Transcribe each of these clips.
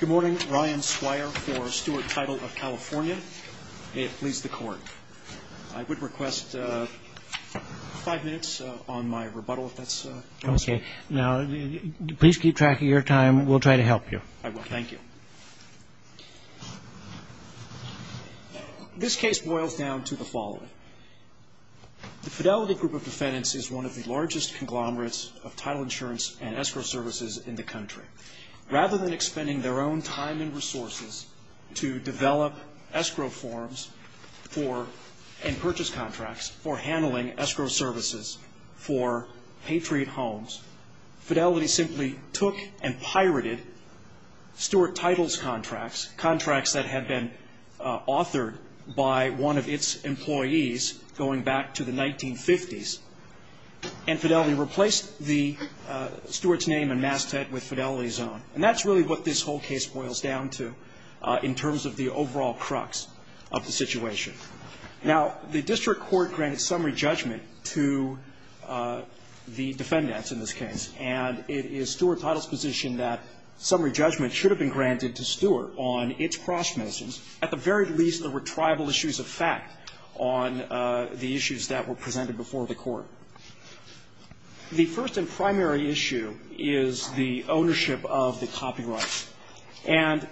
Good morning. Ryan Squire for Stuart Title of California. May it please the Court. I would request five minutes on my rebuttal, if that's okay. Okay. Now, please keep track of your time. We'll try to help you. I will. Thank you. This case boils down to the following. The Fidelity Group of Defendants is one of the largest conglomerates of title insurance and escrow services in the country. Rather than expending their own time and resources to develop escrow forms and purchase contracts for handling escrow services for patriot homes, Fidelity simply took and pirated Stuart Title's contracts, contracts that had been authored by one of its employees going back to the 1950s, and Fidelity replaced the Stuart's name and masthead with Fidelity's own. And that's really what this whole case boils down to in terms of the overall crux of the situation. Now, the district court granted summary judgment to the defendants in this case, and it is Stuart Title's position that summary judgment should have been granted to Stuart on its cross-missions. At the very least, there were tribal issues of fact on the issues that were presented before the court. The first and primary issue is the ownership of the copyrights. And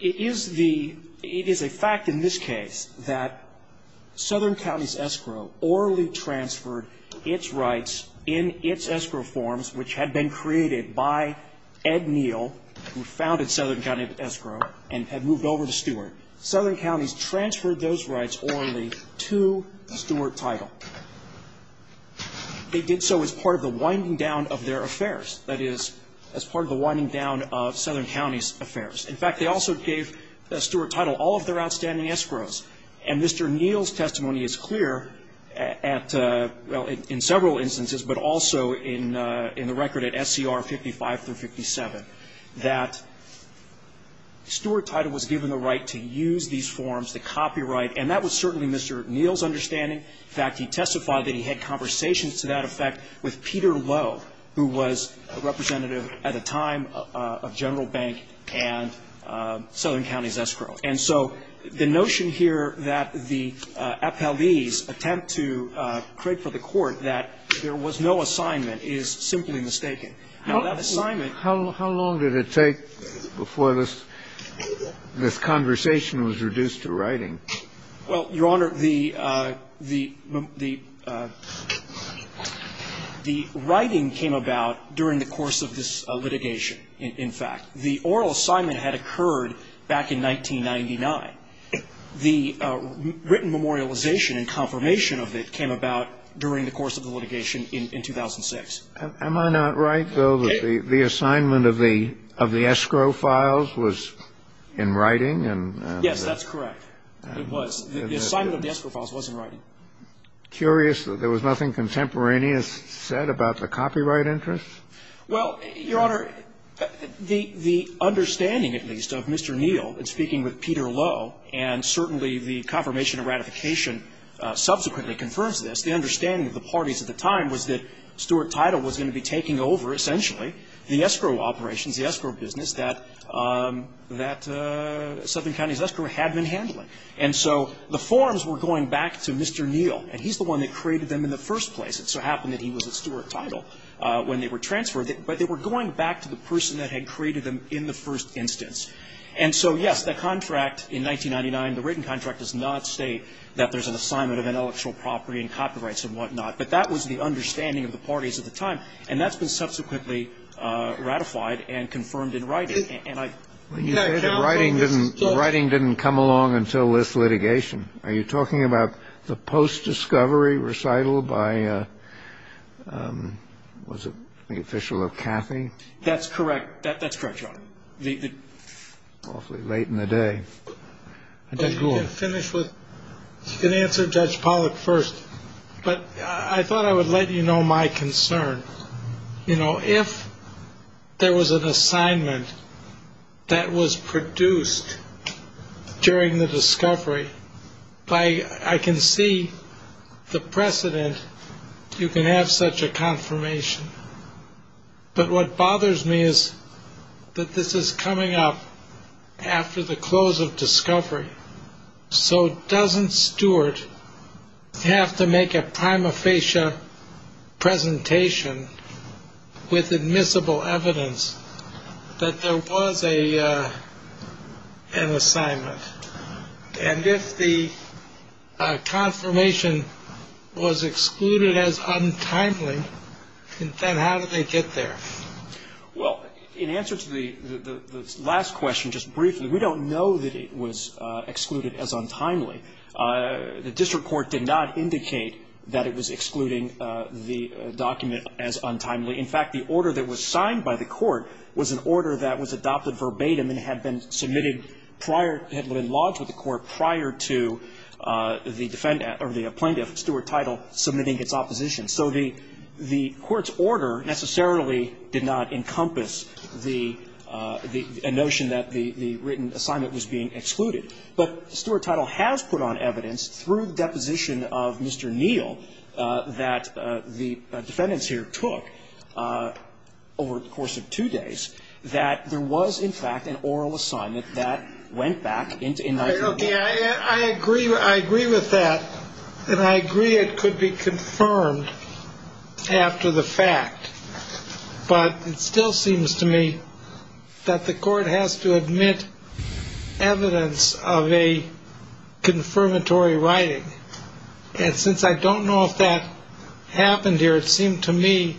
it is the — it is a fact in this case that Southern County's escrow orally transferred its rights in its escrow forms, which had been created by Ed Neal, who founded Southern County Escrow, and had moved over to Stuart. Southern County's transferred those rights orally to Stuart Title. They did so as part of the winding down of their affairs, that is, as part of the winding down of Southern County's affairs. In fact, they also gave Stuart Title all of their outstanding escrows. And Mr. Neal's testimony is clear at — well, in several instances, but also in the record at SCR 55 through 57, that Stuart Title was given the right to use these forms, the copyright. And that was certainly Mr. Neal's understanding. In fact, he testified that he had conversations to that effect with Peter Lowe, who was a representative at the time of General Bank and Southern County's escrow. And so the notion here that the appellees attempt to pray for the Court that there was no assignment is simply mistaken. Now, that assignment — How long did it take before this conversation was reduced to writing? Well, Your Honor, the — the writing came about during the course of this litigation, in fact. The oral assignment had occurred back in 1999. The written memorialization and confirmation of it came about during the course of the litigation in 2006. Am I not right, though, that the assignment of the — of the escrow files was in writing? Yes, that's correct. It was. The assignment of the escrow files was in writing. Curious that there was nothing contemporaneous said about the copyright interest? Well, Your Honor, the — the understanding, at least, of Mr. Neal in speaking with Peter Lowe, and certainly the confirmation of ratification subsequently confirms this, the understanding of the parties at the time was that Stuart Title was going to be taking over, essentially, the escrow operations, the escrow business that — that Southern County's escrow had been handling. And so the forms were going back to Mr. Neal. And he's the one that created them in the first place. It so happened that he was at Stuart Title when they were transferred. But they were going back to the person that had created them in the first instance. And so, yes, the contract in 1999, the written contract, does not state that there's an assignment of intellectual property and copyrights and whatnot. But that was the understanding of the parties at the time. And that's been subsequently ratified and confirmed in writing. And I — But you said that writing didn't — writing didn't come along until this litigation. Are you talking about the post-discovery recital by — was it the official of Cathy? That's correct. That's correct, Your Honor. The — Awfully late in the day. Judge Gould. You can finish with — you can answer Judge Pollack first. But I thought I would let you know my concern. You know, if there was an assignment that was produced during the discovery, I can see the precedent. You can have such a confirmation. But what bothers me is that this is coming up after the close of discovery. So doesn't Stewart have to make a prima facie presentation with admissible evidence that there was an assignment? And if the confirmation was excluded as untimely, then how did they get there? Well, in answer to the last question, just briefly, we don't know that it was excluded as untimely. The district court did not indicate that it was excluding the document as untimely. In fact, the order that was signed by the court was an order that was adopted verbatim and had been submitted prior — had been lodged with the court prior to the defendant or the plaintiff, Stewart Title, submitting its opposition. So the court's order necessarily did not encompass the — a notion that the written assignment was being excluded. But Stewart Title has put on evidence through deposition of Mr. Neal that the defendants here took over the course of two days that there was, in fact, an oral assignment that went back into — I mean, I agree — I agree with that, and I agree it could be confirmed after the fact. But it still seems to me that the court has to admit evidence of a confirmatory writing. And since I don't know if that happened here, it seemed to me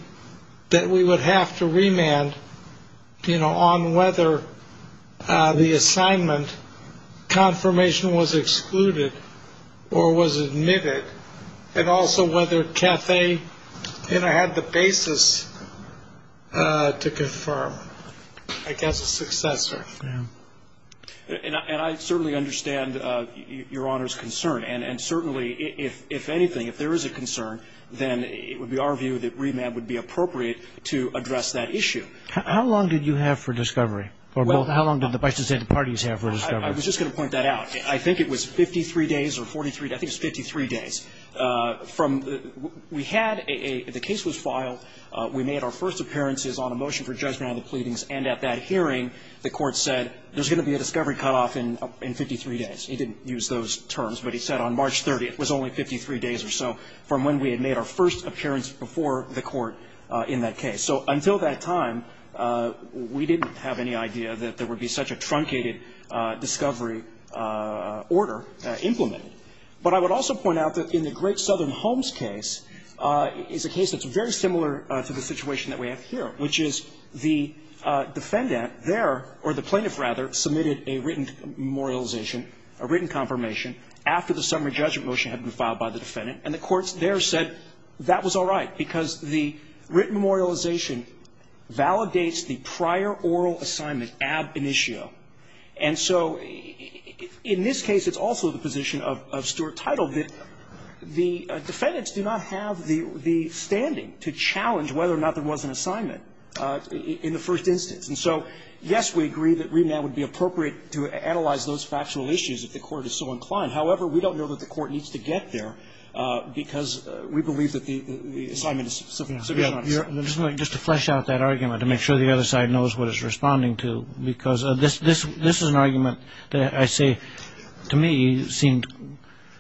that we would have to remand, you know, on whether the assignment confirmation was excluded or was admitted, and also whether Caffey, you know, had the basis to confirm, I guess, a successor. And I certainly understand Your Honor's concern. And certainly, if anything, if there is a concern, then it would be our view that remand would be appropriate to address that issue. How long did you have for discovery? Or how long did the Bicentennial parties have for discovery? I was just going to point that out. I think it was 53 days or 43 — I think it was 53 days. From — we had a — the case was filed. We made our first appearances on a motion for judgment on the pleadings. And at that hearing, the court said there's going to be a discovery cutoff in 53 days. It didn't use those terms, but it said on March 30th. It was only 53 days or so from when we had made our first appearance before the court in that case. So until that time, we didn't have any idea that there would be such a truncated discovery order implemented. But I would also point out that in the Great Southern Homes case, it's a case that's very similar to the situation that we have here, which is the defendant there — or the plaintiff, rather, submitted a written memorialization, a written confirmation after the summary judgment motion had been filed by the defendant. And the courts there said that was all right, because the written memorialization validates the prior oral assignment, ab initio. And so in this case, it's also the position of Stuart Title that the defendants do not have the — the standing to challenge whether or not there was an assignment in the first instance. And so, yes, we agree that remand would be appropriate to analyze those factual issues if the court is so inclined. However, we don't know that the court needs to get there, because we believe that the assignment is sufficient. Just to flesh out that argument to make sure the other side knows what it's responding to, because this is an argument that I say to me seemed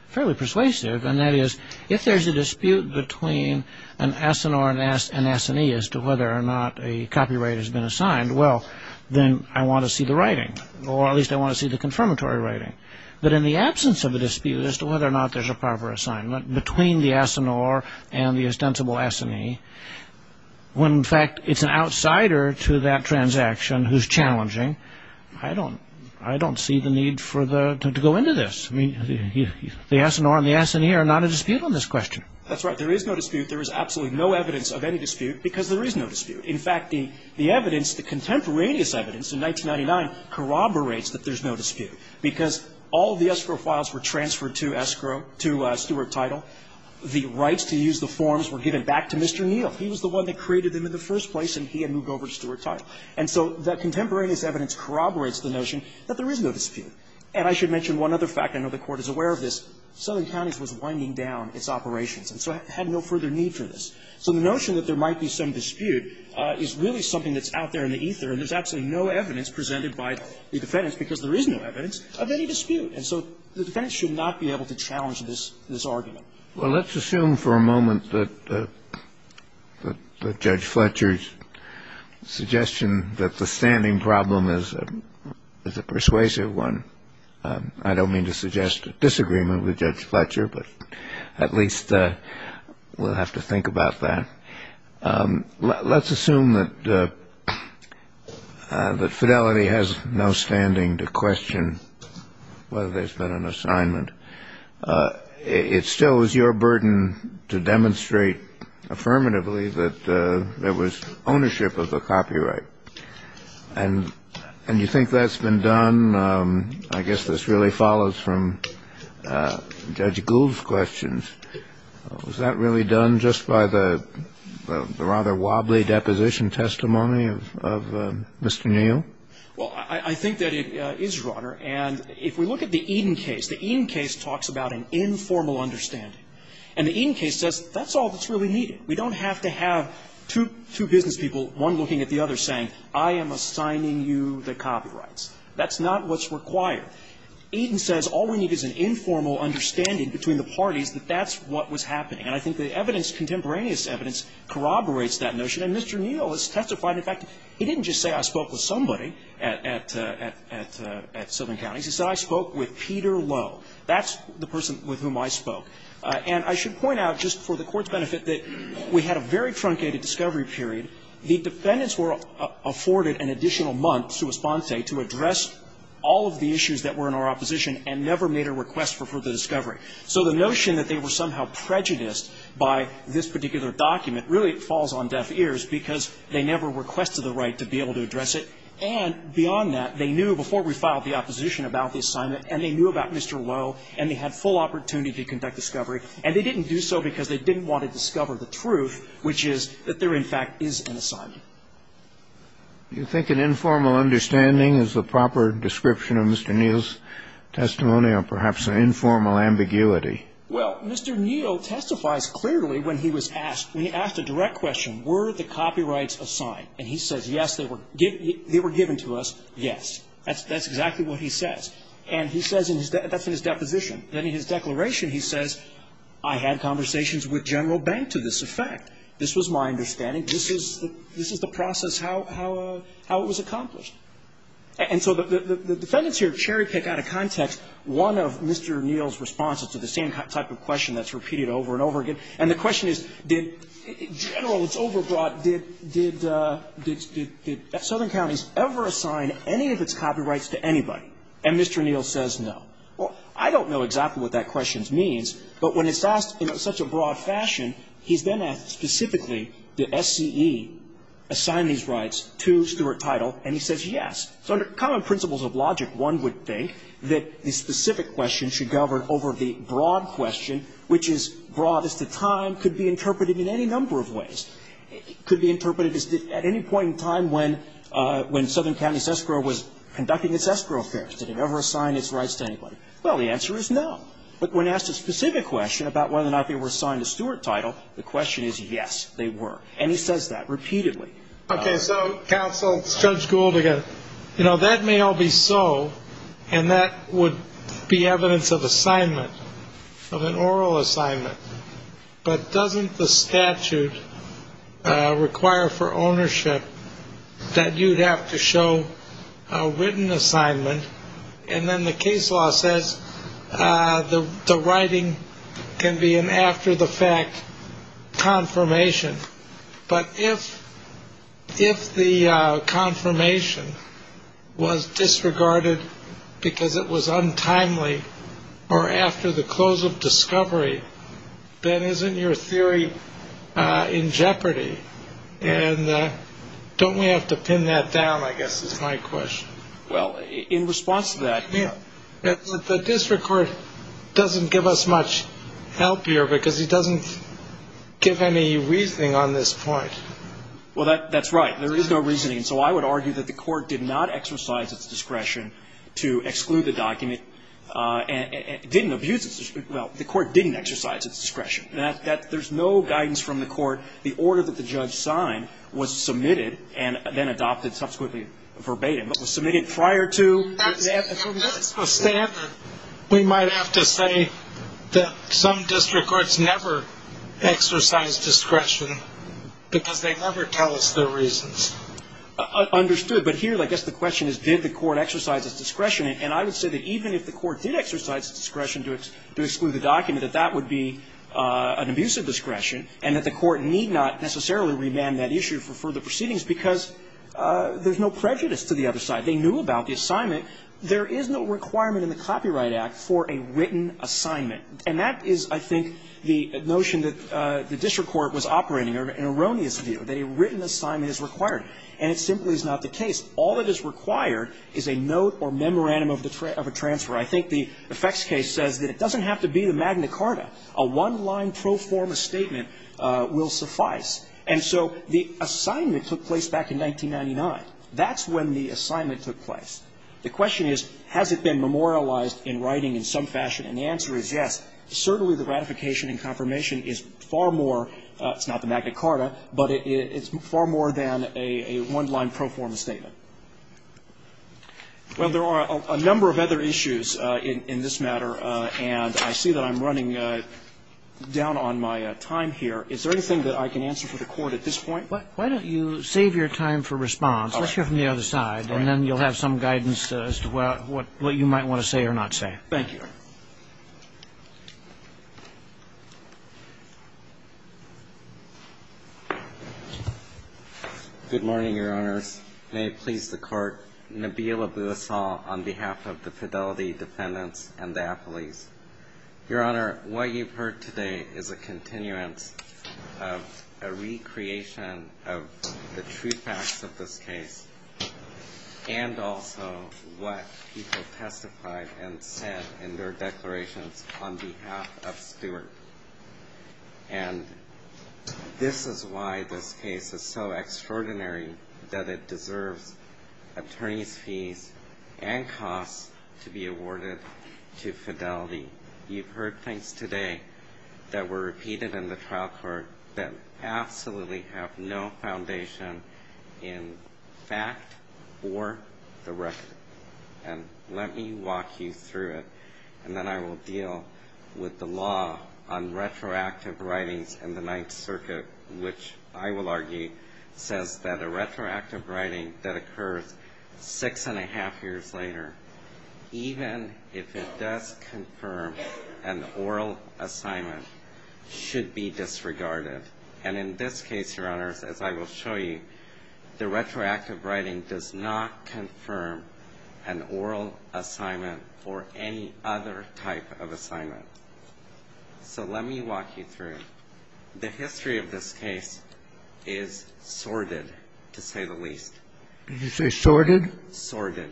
fairly persuasive, and that is if there's a dispute between an asinore and an assinee as to whether or not a copyright has been assigned, well, then I want to see the writing, or at least I want to see the confirmatory writing. But in the absence of a dispute as to whether or not there's a proper assignment between the asinore and the ostensible assinee, when in fact it's an outsider to that transaction who's challenging, I don't — I don't see the need for the — to go into this. I mean, the asinore and the assinee are not a dispute on this question. That's right. There is no dispute. There is absolutely no evidence of any dispute, because there is no dispute. In fact, the evidence, the contemporaneous evidence in 1999 corroborates that there's no dispute, because all of the escrow files were transferred to escrow, to Stewart-Title. The rights to use the forms were given back to Mr. Neal. He was the one that created them in the first place, and he had moved over to Stewart-Title. And so that contemporaneous evidence corroborates the notion that there is no dispute. And I should mention one other fact. I know the Court is aware of this. Southern Counties was winding down its operations and so had no further need for this. So the notion that there might be some dispute is really something that's out there in the ether, and there's absolutely no evidence presented by the defendants, because there is no evidence of any dispute. And so the defendants should not be able to challenge this argument. Well, let's assume for a moment that Judge Fletcher's suggestion that the standing problem is a persuasive one. I don't mean to suggest a disagreement with Judge Fletcher, but at least we'll have to think about that. Let's assume that Fidelity has no standing to question whether there's been an assignment. It still is your burden to demonstrate affirmatively that there was ownership of the copyright. And you think that's been done? I guess this really follows from Judge Gould's questions. Was that really done just by the rather wobbly deposition testimony of Mr. Neal? Well, I think that it is, Your Honor. And if we look at the Eden case, the Eden case talks about an informal understanding. And the Eden case says that's all that's really needed. We don't have to have two business people, one looking at the other, saying, I am assigning you the copyrights. That's not what's required. Eden says all we need is an informal understanding between the parties that that's what was happening. And I think the evidence, contemporaneous evidence, corroborates that notion. And Mr. Neal has testified. In fact, he didn't just say I spoke with somebody at Southern Counties. He said I spoke with Peter Lowe. That's the person with whom I spoke. And I should point out, just for the Court's benefit, that we had a very truncated discovery period. The defendants were afforded an additional month, sua sponte, to address all of the issues that were in our opposition and never made a request for further discovery. So the notion that they were somehow prejudiced by this particular document, really it falls on deaf ears because they never requested the right to be able to address it. And beyond that, they knew before we filed the opposition about the assignment and they knew about Mr. Lowe and they had full opportunity to conduct discovery. And they didn't do so because they didn't want to discover the truth, which is that there, in fact, is an assignment. Do you think an informal understanding is the proper description of Mr. Neal's testimony or perhaps an informal ambiguity? Well, Mr. Neal testifies clearly when he was asked, when he asked a direct question, were the copyrights assigned. And he says, yes, they were given to us, yes. That's exactly what he says. And he says in his, that's in his deposition. Then in his declaration he says, I had conversations with General Bank to this effect. This was my understanding. This is the process how it was accomplished. And so the defendants here cherry pick out of context one of Mr. Neal's responses to the same type of question that's repeated over and over again. And the question is, did General, it's overbroad, did Southern County ever assign any of its copyrights to anybody? And Mr. Neal says no. Well, I don't know exactly what that question means, but when it's asked in such a broad fashion, he's then asked specifically, did SCE assign these rights to Stuart Title? And he says yes. So under common principles of logic, one would think that the specific question should govern over the broad question, which is broad as to time, could be interpreted in any number of ways. It could be interpreted as at any point in time when, when Southern County's escrow was conducting its escrow affairs. Did it ever assign its rights to anybody? Well, the answer is no. But when asked a specific question about whether or not they were assigned to Stuart Title, the question is yes, they were. And he says that repeatedly. Okay. So counsel, Judge Gould again, you know, that may all be so, and that would be evidence of assignment, of an oral assignment. But doesn't the statute require for ownership that you'd have to show a written assignment, and then the case law says the writing can be an after-the-fact confirmation. But if the confirmation was disregarded because it was untimely or after the close of discovery, then isn't your theory in jeopardy? And don't we have to pin that down, I guess, is my question. Well, in response to that. The district court doesn't give us much help here because it doesn't give any reasoning on this point. Well, that's right. There is no reasoning. So I would argue that the court did not exercise its discretion to exclude the document. It didn't abuse its discretion. Well, the court didn't exercise its discretion. There's no guidance from the court. The order that the judge signed was submitted and then adopted subsequently verbatim. It was submitted prior to. That's the standard. We might have to say that some district courts never exercise discretion because they never tell us their reasons. Understood. But here, I guess the question is, did the court exercise its discretion? And I would say that even if the court did exercise its discretion to exclude the document, that that would be an abuse of discretion, and that the court need not necessarily remand that issue for further proceedings because there's no prejudice to the other side. They knew about the assignment. There is no requirement in the Copyright Act for a written assignment. And that is, I think, the notion that the district court was operating, an erroneous view, that a written assignment is required. And it simply is not the case. All that is required is a note or memorandum of a transfer. I think the effects case says that it doesn't have to be the Magna Carta. A one-line pro forma statement will suffice. And so the assignment took place back in 1999. That's when the assignment took place. The question is, has it been memorialized in writing in some fashion? And the answer is yes. Certainly the ratification and confirmation is far more, it's not the Magna Carta, but it's far more than a one-line pro forma statement. Well, there are a number of other issues in this matter, and I see that I'm running down on my time here. Is there anything that I can answer for the Court at this point? Why don't you save your time for response. All right. Let's hear from the other side. All right. And then you'll have some guidance as to what you might want to say or not say. Thank you, Your Honor. Good morning, Your Honors. May it please the Court, Nabil Abbasal on behalf of the Fidelity Defendants and their affilies. Your Honor, what you've heard today is a continuance of a recreation of the truth facts of this case and also what people testified and said in their declarations on behalf of Stewart. And this is why this case is so extraordinary, that it deserves attorney's and costs to be awarded to Fidelity. You've heard things today that were repeated in the trial court that absolutely have no foundation in fact or the record. And let me walk you through it, and then I will deal with the law on retroactive writings in the Ninth Circuit, which I will argue says that a retroactive writing, even if it does confirm an oral assignment, should be disregarded. And in this case, Your Honors, as I will show you, the retroactive writing does not confirm an oral assignment or any other type of assignment. So let me walk you through. The history of this case is sordid, to say the least. Did you say sordid? Sordid.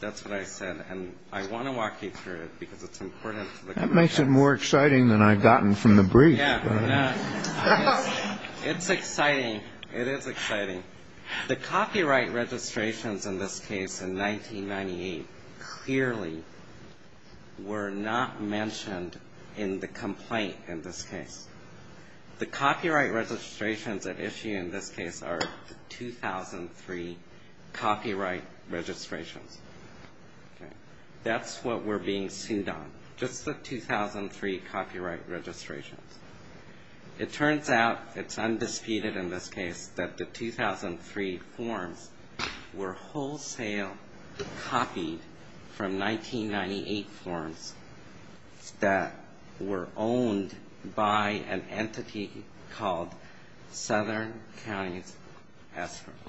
That's what I said. And I want to walk you through it because it's important. That makes it more exciting than I've gotten from the brief. Yeah. It's exciting. It is exciting. The copyright registrations in this case in 1998 clearly were not mentioned in the complaint in this case. The copyright registrations at issue in this case are 2003 copyright registrations. That's what we're being sued on, just the 2003 copyright registrations. It turns out, it's undisputed in this case, that the 2003 forms were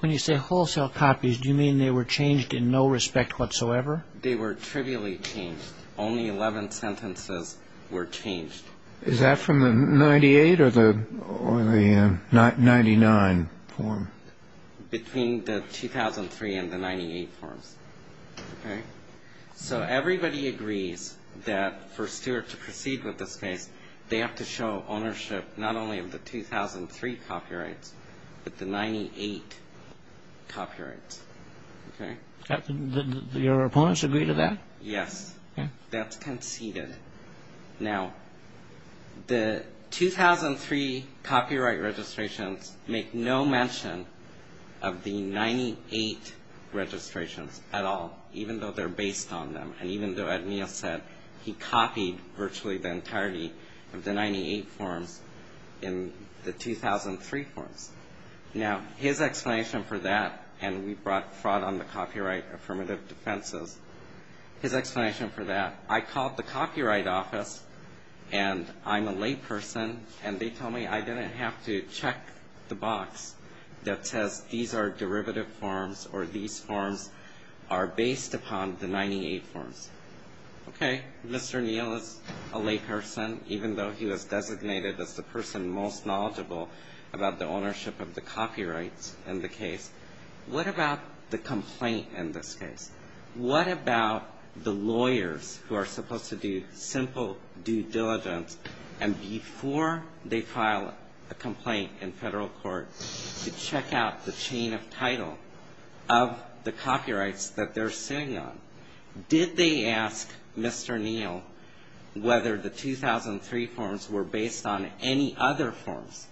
When you say wholesale copies, do you mean they were changed in no respect whatsoever? They were trivially changed. Only 11 sentences were changed. Is that from the 98 or the 99 form? Between the 2003 and the 98 forms. Okay? So everybody agrees that for Stewart to proceed with this case, they have to show ownership not only of the 2003 copyrights, but the 98 copyrights. Okay? Did your opponents agree to that? Yes. That's conceded. Now, the 2003 copyright registrations make no mention of the 98 registrations at all, even though they're based on them. And even though Ed Neal said he copied virtually the entirety of the 98 forms in the 2003 forms. Now, his explanation for that, and we brought fraud on the copyright affirmative defenses. His explanation for that, I called the Copyright Office, and I'm a layperson, and they told me I didn't have to check the box that says these are derivative forms or these forms are based upon the 98 forms. Okay. Mr. Neal is a layperson, even though he was designated as the person most knowledgeable about the ownership of the copyrights in the case. What about the complaint in this case? What about the lawyers who are supposed to do simple due diligence, and before they file a complaint in federal court to check out the chain of title of the copyrights that they're suing on, did they ask Mr. Neal whether the 2003 forms were based on any other forms?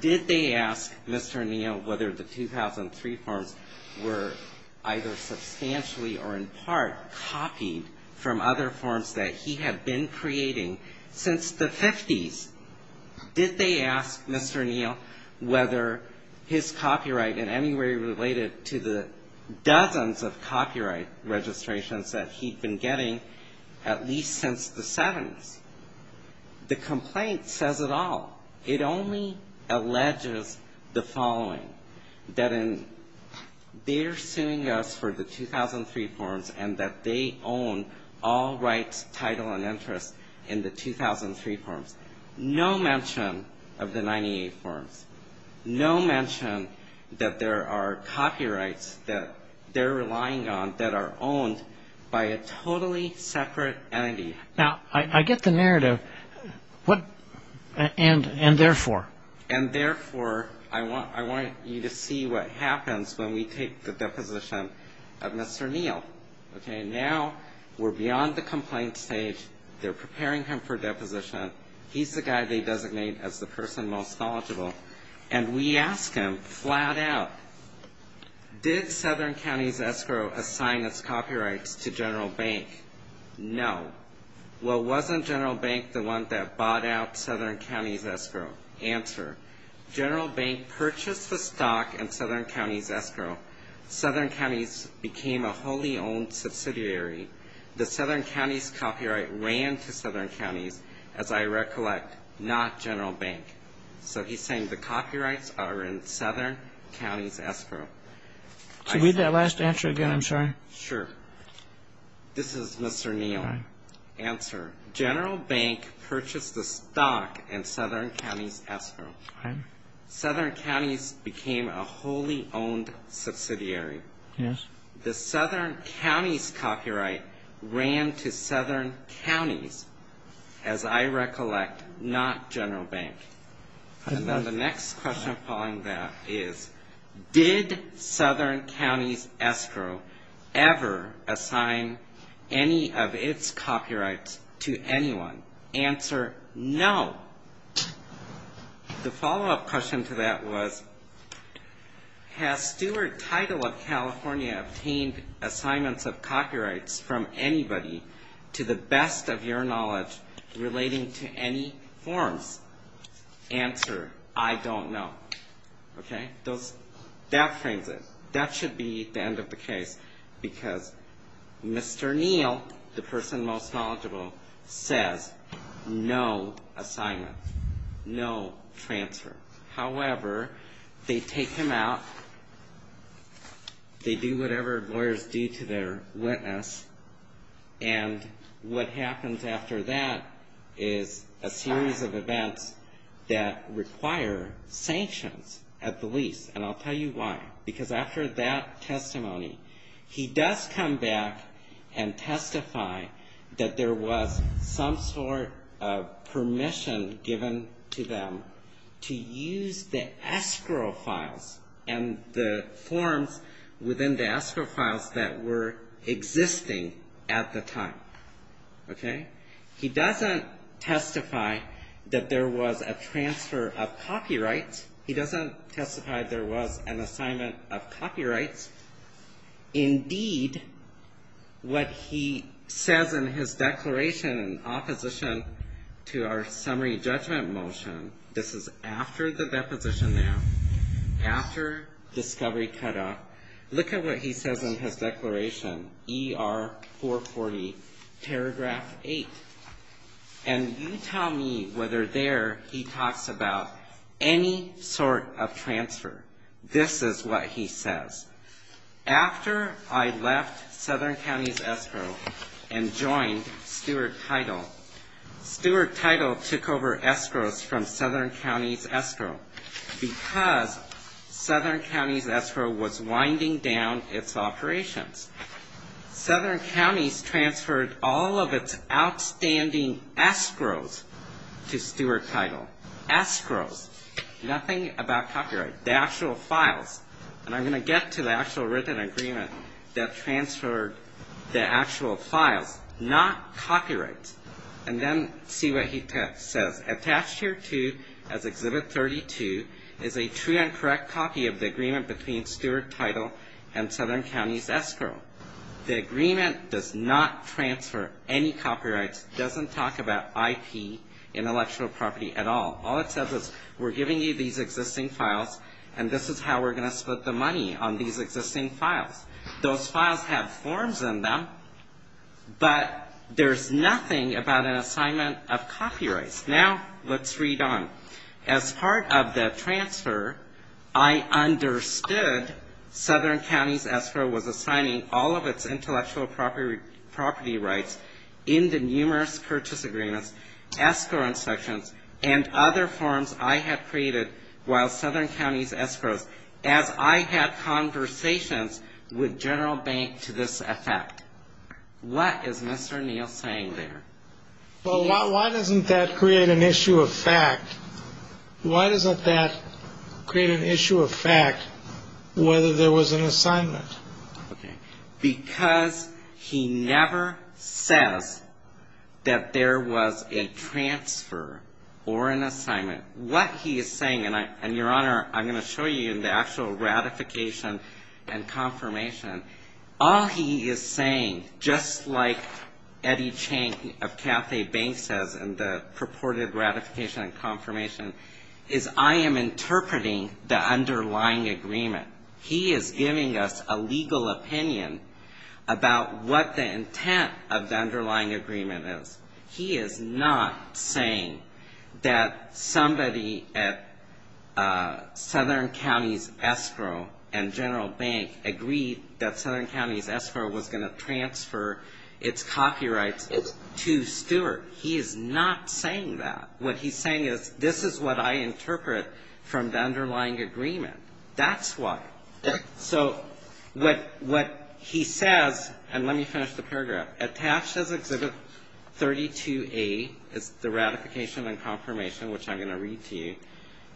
Did they ask Mr. Neal whether the 2003 forms were either substantially or in Did they ask Mr. Neal whether his copyright in any way related to the dozens of copyright registrations that he'd been getting at least since the 70s? The complaint says it all. It only alleges the following, that in their suing us for the 2003 forms and that they own all rights, title, and interests in the 2003 forms. No mention of the 98 forms. No mention that there are copyrights that they're relying on that are owned by a totally separate entity. Now, I get the narrative. And therefore? And therefore, I want you to see what happens when we take the deposition of Mr. Neal. Okay, now we're beyond the complaint stage. They're preparing him for deposition. He's the guy they designate as the person most knowledgeable. And we ask him flat out, did Southern County's escrow assign its copyrights to General Bank? No. Well, wasn't General Bank the one that bought out Southern County's escrow? Answer, General Bank purchased the stock in Southern County's escrow. Southern County's became a wholly owned subsidiary. The Southern County's copyright ran to Southern County's, as I recollect, not General Bank. So he's saying the copyrights are in Southern County's escrow. So read that last answer again, I'm sorry. Sure. This is Mr. Neal. Answer, General Bank purchased the stock in Southern County's escrow. Southern County's became a wholly owned subsidiary. Yes. The Southern County's copyright ran to Southern County's, as I recollect, not General Bank. And then the next question following that is, did Southern County's escrow ever assign any of its copyrights to anyone? Answer, no. The follow-up question to that was, has Stewart Title of California obtained assignments of copyrights from anybody, to the best of your knowledge, relating to any forms? Answer, I don't know. Okay? That frames it. That should be the end of the case, because Mr. Neal, the person most likely to be held accountable for that assignment, no transfer. However, they take him out. They do whatever lawyers do to their witness. And what happens after that is a series of events that require sanctions at the least. And I'll tell you why. Because after that testimony, he does come back and testify that there was some sort of permission given to them to use the escrow files and the forms within the escrow files that were existing at the time. Okay? He doesn't testify that there was a transfer of copyrights. He doesn't testify there was an assignment of copyrights. Indeed, what he says in his declaration in opposition to our summary judgment motion, this is after the deposition now, after discovery cutoff. Look at what he says in his declaration, ER 440, paragraph 8. And you tell me whether there he talks about any sort of transfer. This is what he says. After I left Southern County's escrow and joined Stuart Title, Stuart Title took over escrows from Southern County's escrow because Southern County's escrow was winding down its operations. Southern County's transferred all of its outstanding escrows to Stuart Title. Escrows. Nothing about copyright. The actual files. And I'm going to get to the actual written agreement that transferred the actual files, not copyrights, and then see what he says. Attached here to, as Exhibit 32, is a true and correct copy of the agreement between Stuart Title and Southern County's escrow. The agreement does not transfer any copyrights, doesn't talk about IP, intellectual property, at all. All it says is we're giving you these existing files, and this is how we're going to split the money on these existing files. Those files have forms in them, but there's nothing about an assignment of copyrights. Now let's read on. As part of the transfer, I understood Southern County's escrow was assigning all of its intellectual property rights in the numerous purchase agreements, escrow transactions, and other forms I had created while Southern County's escrows, as I had conversations with General Bank to this effect. What is Mr. Neal saying there? Well, why doesn't that create an issue of fact? Why doesn't that create an issue of fact whether there was an assignment? Because he never says that there was a transfer or an assignment. What he is saying, and, Your Honor, I'm going to show you in the actual ratification and confirmation, all he is saying, just like Eddie Chang of Cathay Bank says in the purported ratification and confirmation, is I am interpreting the underlying agreement. He is giving us a legal opinion about what the intent of the underlying agreement is. He is not saying that somebody at Southern County's escrow and General Bank agreed that Southern County's escrow was going to transfer its copyrights to Stuart. He is not saying that. What he's saying is this is what I interpret from the underlying agreement. That's why. So what he says, and let me finish the paragraph, attached as Exhibit 32A is the ratification and confirmation, which I'm going to read to you,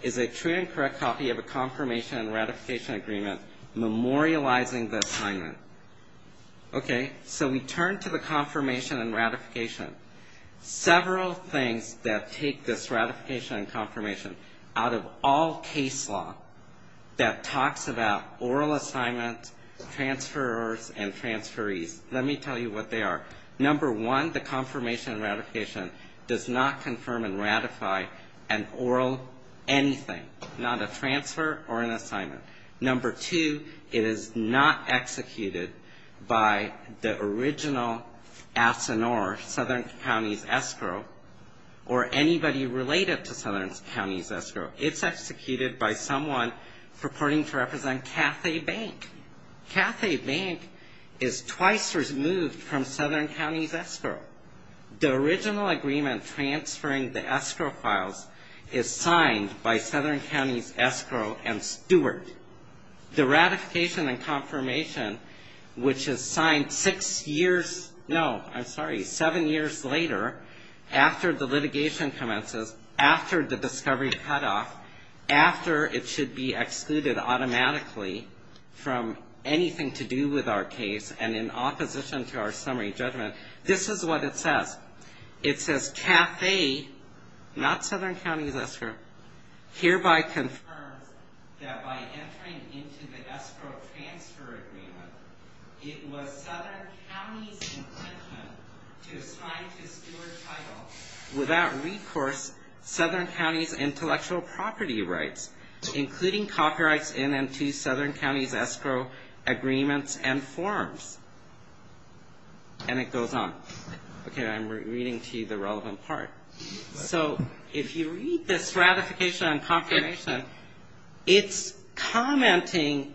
is a true and correct copy of a confirmation and ratification agreement memorializing the assignment. Okay? So we turn to the confirmation and ratification. Several things that take this ratification and confirmation out of all case law that talks about oral assignments, transfers, and transferees. Let me tell you what they are. Number one, the confirmation and ratification does not confirm and ratify an oral anything, not a transfer or an assignment. Number two, it is not executed by the original ASINOR, Southern County's escrow, or anybody related to Southern County's escrow. It's executed by someone purporting to represent Cathay Bank. Cathay Bank is twice removed from Southern County's escrow. The original agreement transferring the escrow files is signed by Southern County's escrow and Stuart. The ratification and confirmation, which is signed six years no, I'm sorry, seven years later, after the litigation commences, after the discovery cutoff, after it should be excluded automatically from anything to do with our case and in opposition to our summary judgment, this is what it says. It says, Cathay, not Southern County's escrow, hereby confirms that by entering into the escrow transfer agreement, it was Southern County's intention to sign to Stuart Title without recourse, Southern County's intellectual property rights, including copyrights in and to Southern County's escrow agreements and forms. And it goes on. Okay, I'm reading to you the relevant part. So if you read this ratification and confirmation, it's commenting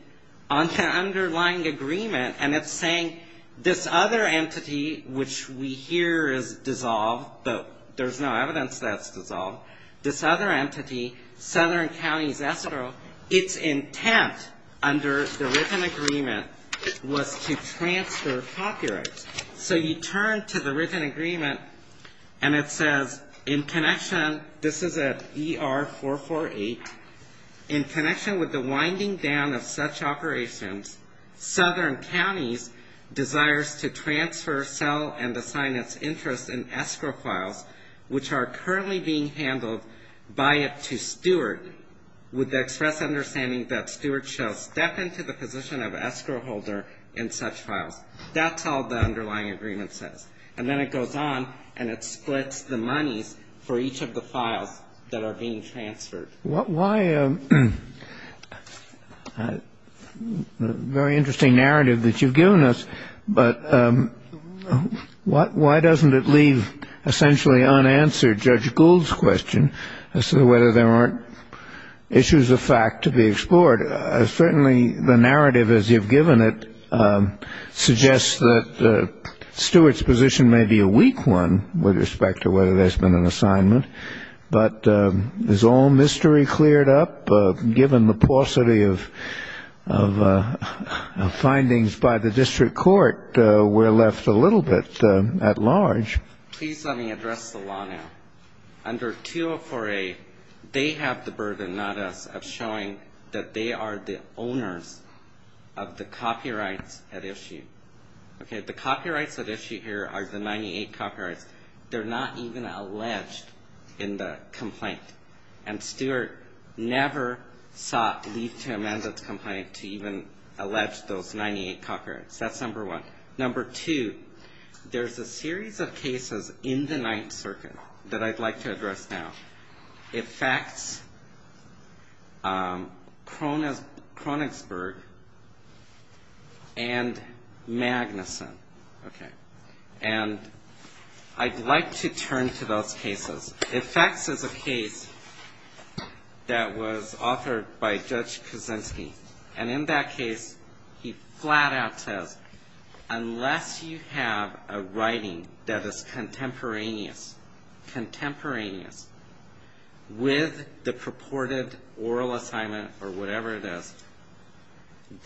on the underlying agreement and it's saying this other entity, which we hear is dissolved, but there's no evidence that's dissolved, this other entity, Southern County's escrow, its intent under the written agreement was to transfer copyrights. So you turn to the written agreement and it says in connection, this is at ER-448, in Southern County's desires to transfer, sell, and assign its interest in escrow files, which are currently being handled by it to Stuart, with the express understanding that Stuart shall step into the position of escrow holder in such files. That's all the underlying agreement says. And then it goes on and it splits the monies for each of the files that are being transferred. Why a very interesting narrative that you've given us, but why doesn't it leave essentially unanswered Judge Gould's question as to whether there aren't issues of fact to be explored? Certainly the narrative as you've given it suggests that Stuart's position may be a weak one with respect to whether there's been an assignment. But as all mystery cleared up, given the paucity of findings by the district court, we're left a little bit at large. Please let me address the law now. Under 204A, they have the burden, not us, of showing that they are the owners of the copyrights at issue. The copyrights at issue here are the 98 copyrights. They're not even alleged in the complaint. And Stuart never sought leave to amend its complaint to even allege those 98 copyrights. That's number one. Number two, there's a series of cases in the Ninth Circuit that I'd like to address now. Effects, Kronigsberg, and Magnuson. And I'd like to turn to those cases. Effects is a case that was authored by Judge Kaczynski. And in that case, he flat out says, unless you have a writing that is contemporaneous, with the purported oral assignment or whatever it is,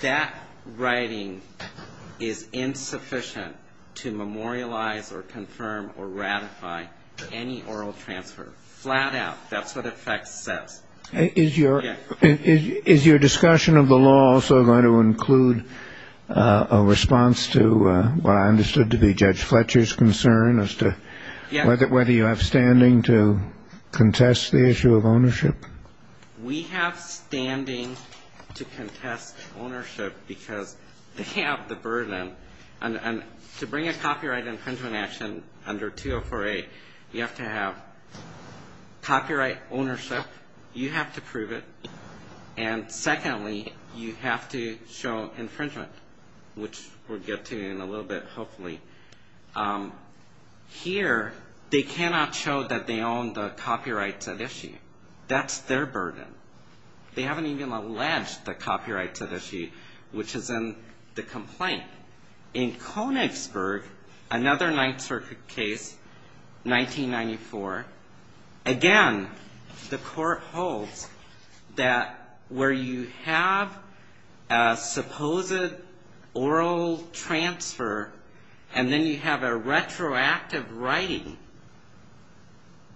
that writing is insufficient to memorialize or confirm or ratify any oral transfer. Flat out, that's what effects says. Is your discussion of the law also going to include a response to what I understood to be Judge Fletcher's concern, as to whether you have standing to contest the issue of ownership? We have standing to contest ownership because they have the burden. And to bring a copyright infringement action under 204A, you have to have copyright ownership. You have to prove it. And secondly, you have to show infringement, which we'll get to in a little bit, hopefully. Here, they cannot show that they own the copyrights at issue. That's their burden. They haven't even alleged the copyrights at issue, which is in the complaint. In Kronigsberg, another Ninth Circuit case, 1994. Again, the court holds that where you have a supposed oral transfer, and then you have a retroactive writing,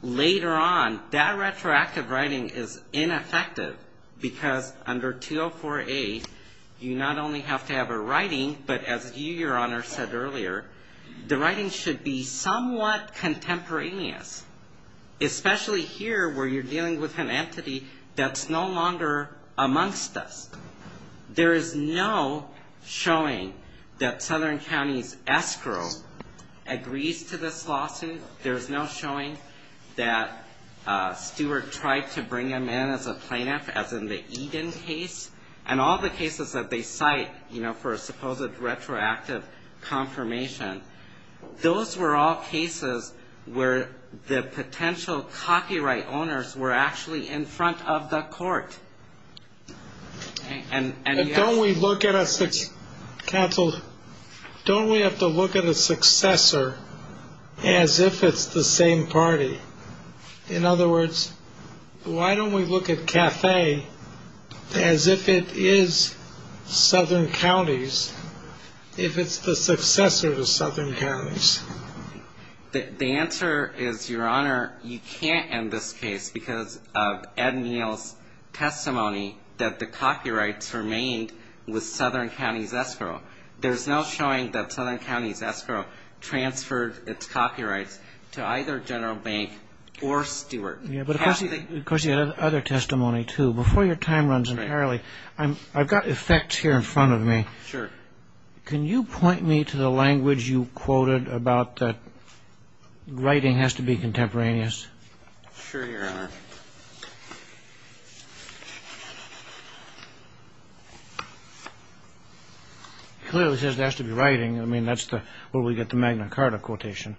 later on, that retroactive writing is ineffective, because under 204A, you not only have to have a writing, but as you, Your Honor, said earlier, the writing should be somewhat contemporaneous. Especially here, where you're dealing with an entity that's no longer amongst us. There is no showing that Southern County's escrow agrees to this lawsuit. There's no showing that Stewart tried to bring him in as a plaintiff, as in the Eden case. And all the cases that they cite, you know, for a supposed retroactive confirmation, those were all cases where the potential copyright owners were actually in front of the court. And don't we look at a, counsel, don't we have to look at a successor as if it's the same party? In other words, why don't we look at CAFE as if it is Southern County's, if it's the successor to Southern County? The answer is, Your Honor, you can't end this case because of Ed Neal's testimony that the copyrights remained with Southern County's escrow. There's no showing that Southern County's escrow transferred its copyrights to either General Bank or Stewart. Of course, you had other testimony, too. Before your time runs entirely, I've got effects here in front of me. Can you point me to the language you quoted about that writing has to be contemporaneous? Sure, Your Honor. Clearly says it has to be writing. I mean, that's where we get the Magna Carta quotation.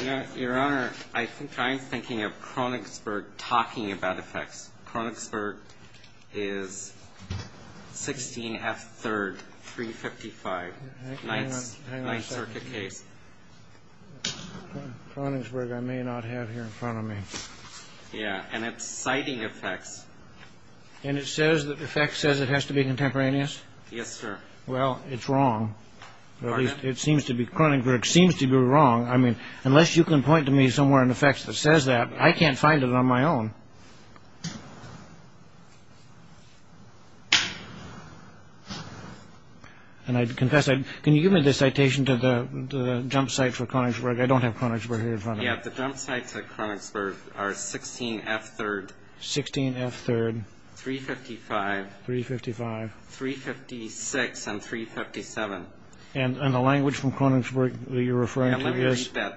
Okay. Your Honor, I think I'm thinking of Kronigsberg talking about effects. Kronigsberg is 16F3, 355, 9th Circuit case. Kronigsberg I may not have here in front of me. Yeah, and it's citing effects. And it says that the effect says it has to be contemporaneous? Yes, sir. Well, it's wrong. At least it seems to be. Kronigsberg seems to be wrong. I mean, unless you can point to me somewhere in the facts that says that, I can't find it on my own. And I confess, can you give me the citation to the jump site for Kronigsberg? I don't have Kronigsberg here in front of me. Yeah, the jump site for Kronigsberg are 16F3, 355, 356, and 357. And the language from Kronigsberg that you're referring to is? No,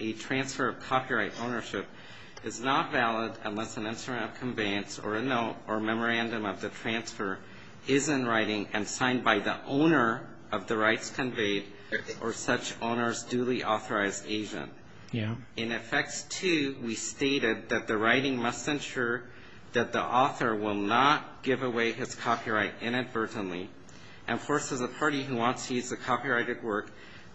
it's not. It's not valid unless an instrument of conveyance or a note or memorandum of the transfer is in writing and signed by the owner of the rights conveyed or such owner's duly authorized agent. In effects two, we stated that the writing must ensure that the author will not give away his copyright inadvertently and forces a party who wants to use the copyrighted work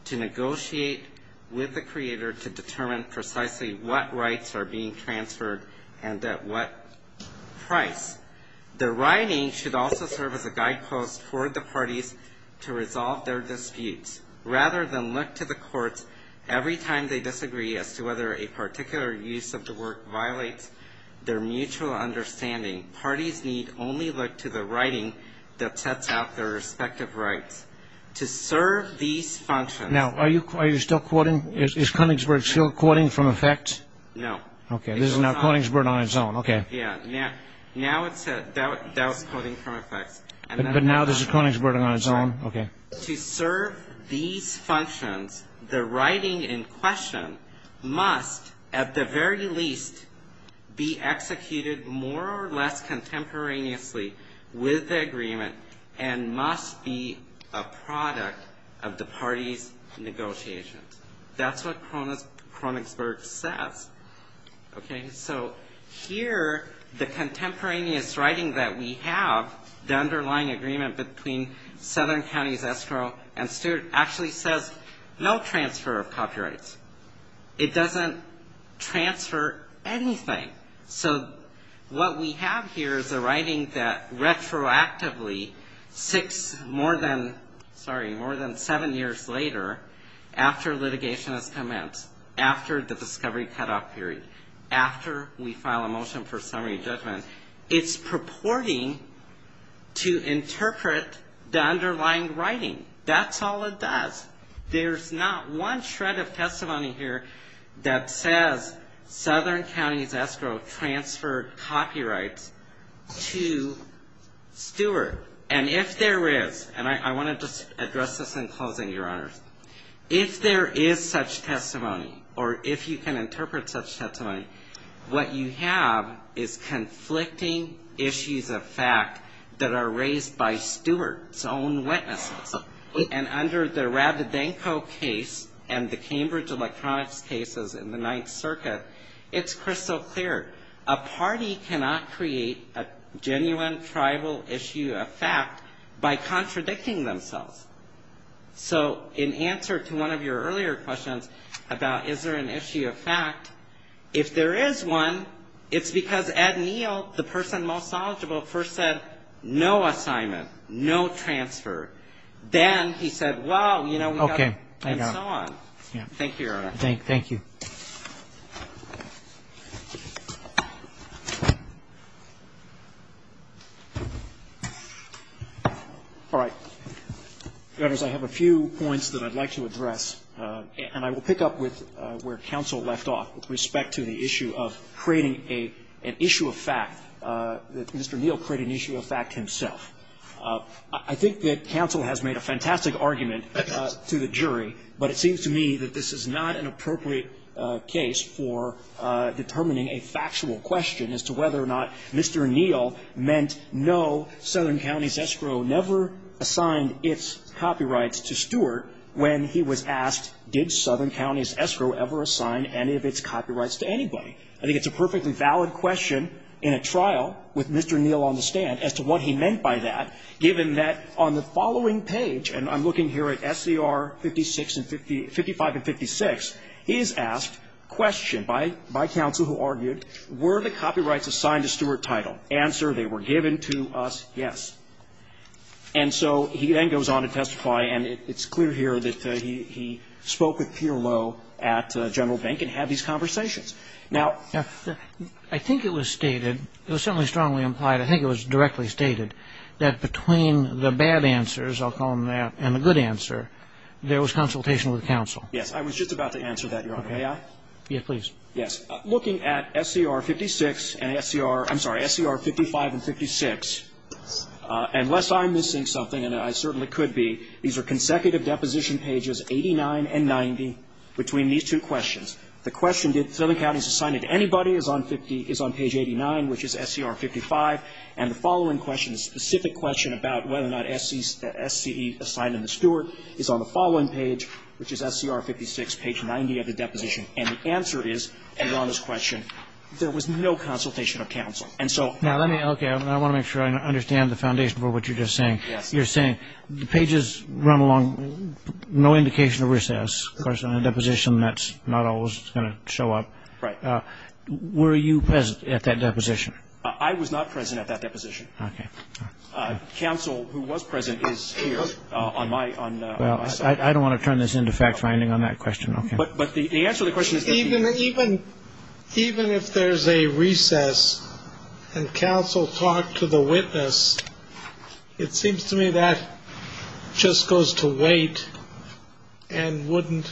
to negotiate with the creator to determine precisely what rights are being transferred and at what price. The writing should also serve as a guidepost for the parties to resolve their disputes, rather than look to the courts every time they disagree as to whether a particular use of the work violates their mutual understanding. Parties need only look to the writing that sets out their respective rights. To serve these functions... Now, are you still quoting? Is Kronigsberg still quoting from effects? No. Okay, this is now Kronigsberg on its own. But now this is Kronigsberg on its own. To serve these functions, the writing in question must, at the very least, be executed more or less contemporaneously with the agreement That's what Kronigsberg says. So here, the contemporaneous writing that we have, the underlying agreement between Southern Counties, Estro, and Stewart, actually says no transfer of copyrights. It doesn't transfer anything. So what we have here is a writing that retroactively, more than seven years later, after litigation has commenced, after the discovery cutoff period, after we file a motion for summary judgment, it's purporting to interpret the underlying writing. That's all it does. There's not one shred of testimony here that says Southern Counties, Estro transferred copyrights to Stewart. And if there is, and I want to just address this in closing, Your Honor. If there is such testimony, or if you can interpret such testimony, what you have is conflicting issues of fact that are raised by Stewart's own witnesses. And under the Rabidenko case and the Cambridge Electronics cases in the Ninth Circuit, it's crystal clear. A party cannot create a genuine tribal issue of fact by contradicting themselves. So in answer to one of your earlier questions about is there an issue of fact, if there is one, it's because Ed Neal, the person most knowledgeable, first said no assignment, no transfer. Then he said, well, you know, we got to, and so on. Thank you, Your Honor. Thank you. All right. I have a few points that I'd like to address, and I will pick up with where counsel left off with respect to the issue of creating an issue of fact, that Mr. Neal created an issue of fact himself. I think that counsel has made a fantastic argument to the jury, but it seems to me that this is not an appropriate case for determining a factual question as to whether or not Mr. Neal meant no Southern County's escrow never assigned its copyrights to Stewart when he was asked did Southern County's escrow ever assign any of its copyrights to anybody. I think it's a perfectly valid question in a trial with Mr. Neal on the stand as to what he meant by that, given that on the following page, and I'm looking here at SCR 55 and 56, he is asked, questioned by counsel who argued, were the copyrights assigned to Stewart Title? Answer, they were given to us, yes. And so he then goes on to testify, and it's clear here that he spoke with Pierre Lowe at General Bank and had these conversations. Now, I think it was stated, it was certainly strongly implied, I think it was directly stated that between the bad answers, I'll call them that, and the good answer, there was consultation with counsel. Yes, I was just about to answer that, Your Honor. May I? Yes, please. Yes. Looking at SCR 56 and SCR, I'm sorry, SCR 55 and 56, unless I'm missing something, and I certainly could be, these are consecutive deposition pages 89 and 90 between these two questions. The question, did Southern Counties assign it to anybody, is on page 89, which is SCR 55. And the following question, the specific question about whether or not SCE assigned it to Stewart is on the following page, which is SCR 56, page 90 of the deposition. And the answer is, Your Honor's question, there was no consultation of counsel. And so ---- Now, let me, okay, I want to make sure I understand the foundation for what you're just saying. The pages run along no indication of recess. Of course, on a deposition, that's not always going to show up. Right. Were you present at that deposition? I was not present at that deposition. Okay. Counsel who was present is here on my side. Well, I don't want to turn this into fact-finding on that question. Okay. But the answer to the question is that ---- Even if there's a recess and counsel talked to the witness, it seems to me that just goes to wait and wouldn't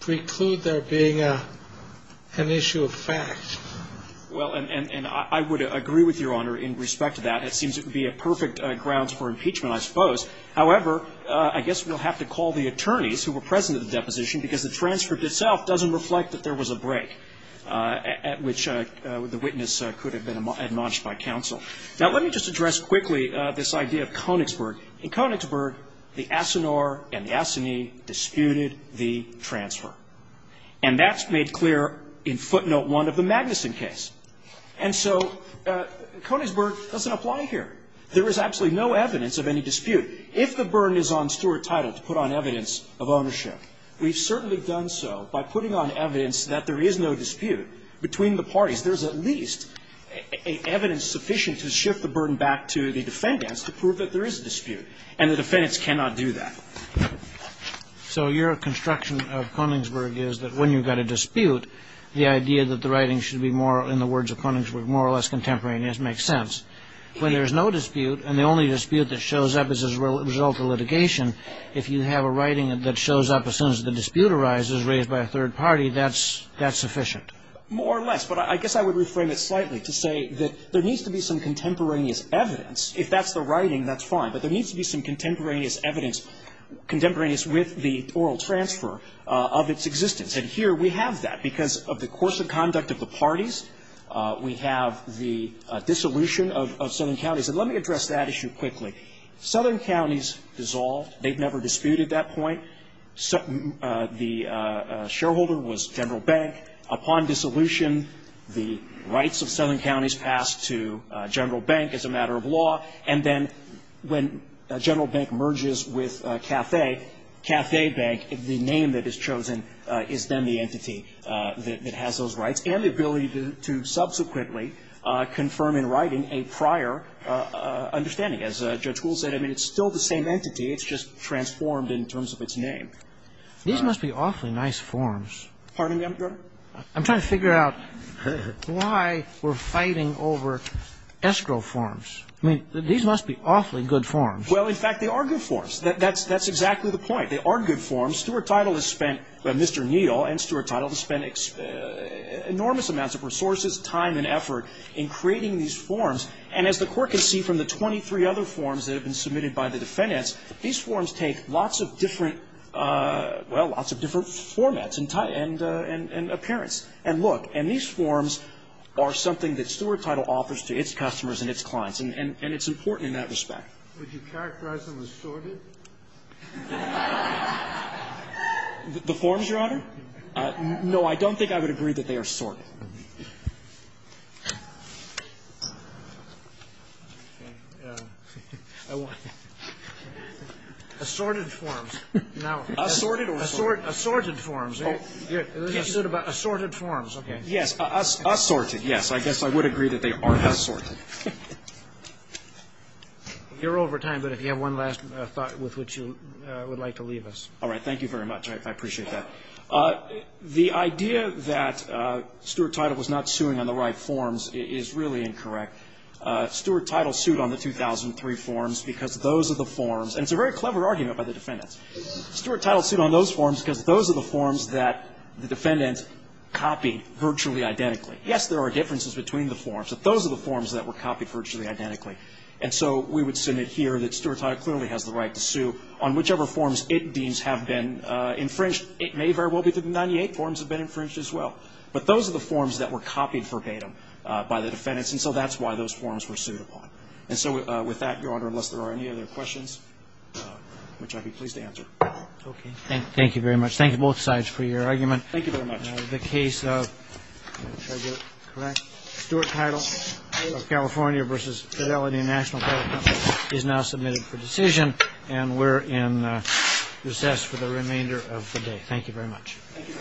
preclude there being an issue of fact. Well, and I would agree with Your Honor in respect to that. It seems it would be a perfect grounds for impeachment, I suppose. However, I guess we'll have to call the attorneys who were present at the deposition because the transfer itself doesn't reflect that there was a break at which the witness could have been admonished by counsel. Now, let me just address quickly this idea of Konigsberg. In Konigsberg, the asinor and the asinine disputed the transfer. And that's made clear in footnote one of the Magnuson case. And so Konigsberg doesn't apply here. There is absolutely no evidence of any dispute. If the burden is on Stuart Title to put on evidence of ownership, we've certainly done so by putting on evidence that there is no dispute between the parties. There's at least evidence sufficient to shift the burden back to the defendants to prove that there is a dispute. And the defendants cannot do that. So your construction of Konigsberg is that when you've got a dispute, the idea that the writing should be more, in the words of Konigsberg, more or less contemporaneous makes sense. When there's no dispute and the only dispute that shows up is as a result of litigation, if you have a writing that shows up as soon as the dispute arises raised by a third party, that's sufficient. More or less. But I guess I would reframe it slightly to say that there needs to be some contemporaneous evidence. If that's the writing, that's fine. But there needs to be some contemporaneous evidence, contemporaneous with the oral transfer of its existence. And here we have that because of the course of conduct of the parties. We have the dissolution of Southern Counties. And let me address that issue quickly. Southern Counties dissolved. They've never disputed that point. The shareholder was General Bank. Upon dissolution, the rights of Southern Counties passed to General Bank as a matter of law. And then when General Bank merges with CAFE, CAFE Bank, the name that is chosen is then the entity that has those rights and the ability to subsequently confirm in writing a prior understanding. As Judge Gould said, I mean, it's still the same entity. It's just transformed in terms of its name. These must be awfully nice forms. Pardon me, Your Honor? I'm trying to figure out why we're fighting over escrow forms. I mean, these must be awfully good forms. Well, in fact, they are good forms. That's exactly the point. They are good forms. Stuart Title has spent Mr. Neal and Stuart Title has spent enormous amounts of resources, time and effort in creating these forms. And as the Court can see from the 23 other forms that have been submitted by the defendants, these forms take lots of different, well, lots of different formats and appearance. And look, and these forms are something that Stuart Title offers to its customers and its clients. And it's important in that respect. Would you characterize them as assorted? The forms, Your Honor? No, I don't think I would agree that they are assorted. Assorted forms. Assorted or assorted? Assorted forms. Assorted forms. Okay. Assorted, yes. I guess I would agree that they are assorted. You're over time, but if you have one last thought with which you would like to leave us. All right. Thank you very much. I appreciate that. The idea that Stuart Title was not suing on the right forms is really incorrect. Stuart Title sued on the 2003 forms because those are the forms. And it's a very clever argument by the defendants. Stuart Title sued on those forms because those are the forms that the defendant copied virtually identically. Yes, there are differences between the forms, but those are the forms that were sued that were copied virtually identically. And so we would submit here that Stuart Title clearly has the right to sue on whichever forms it deems have been infringed. It may very well be that the 98 forms have been infringed as well. But those are the forms that were copied verbatim by the defendants, and so that's why those forms were sued upon. And so with that, Your Honor, unless there are any other questions, which I'd be pleased to answer. Okay. Thank you very much. Thank you both sides for your argument. Thank you very much. The case of Stuart Title of California v. Fidelity National Credit Company is now submitted for decision, and we're in recess for the remainder of the day. Thank you very much. Thank you.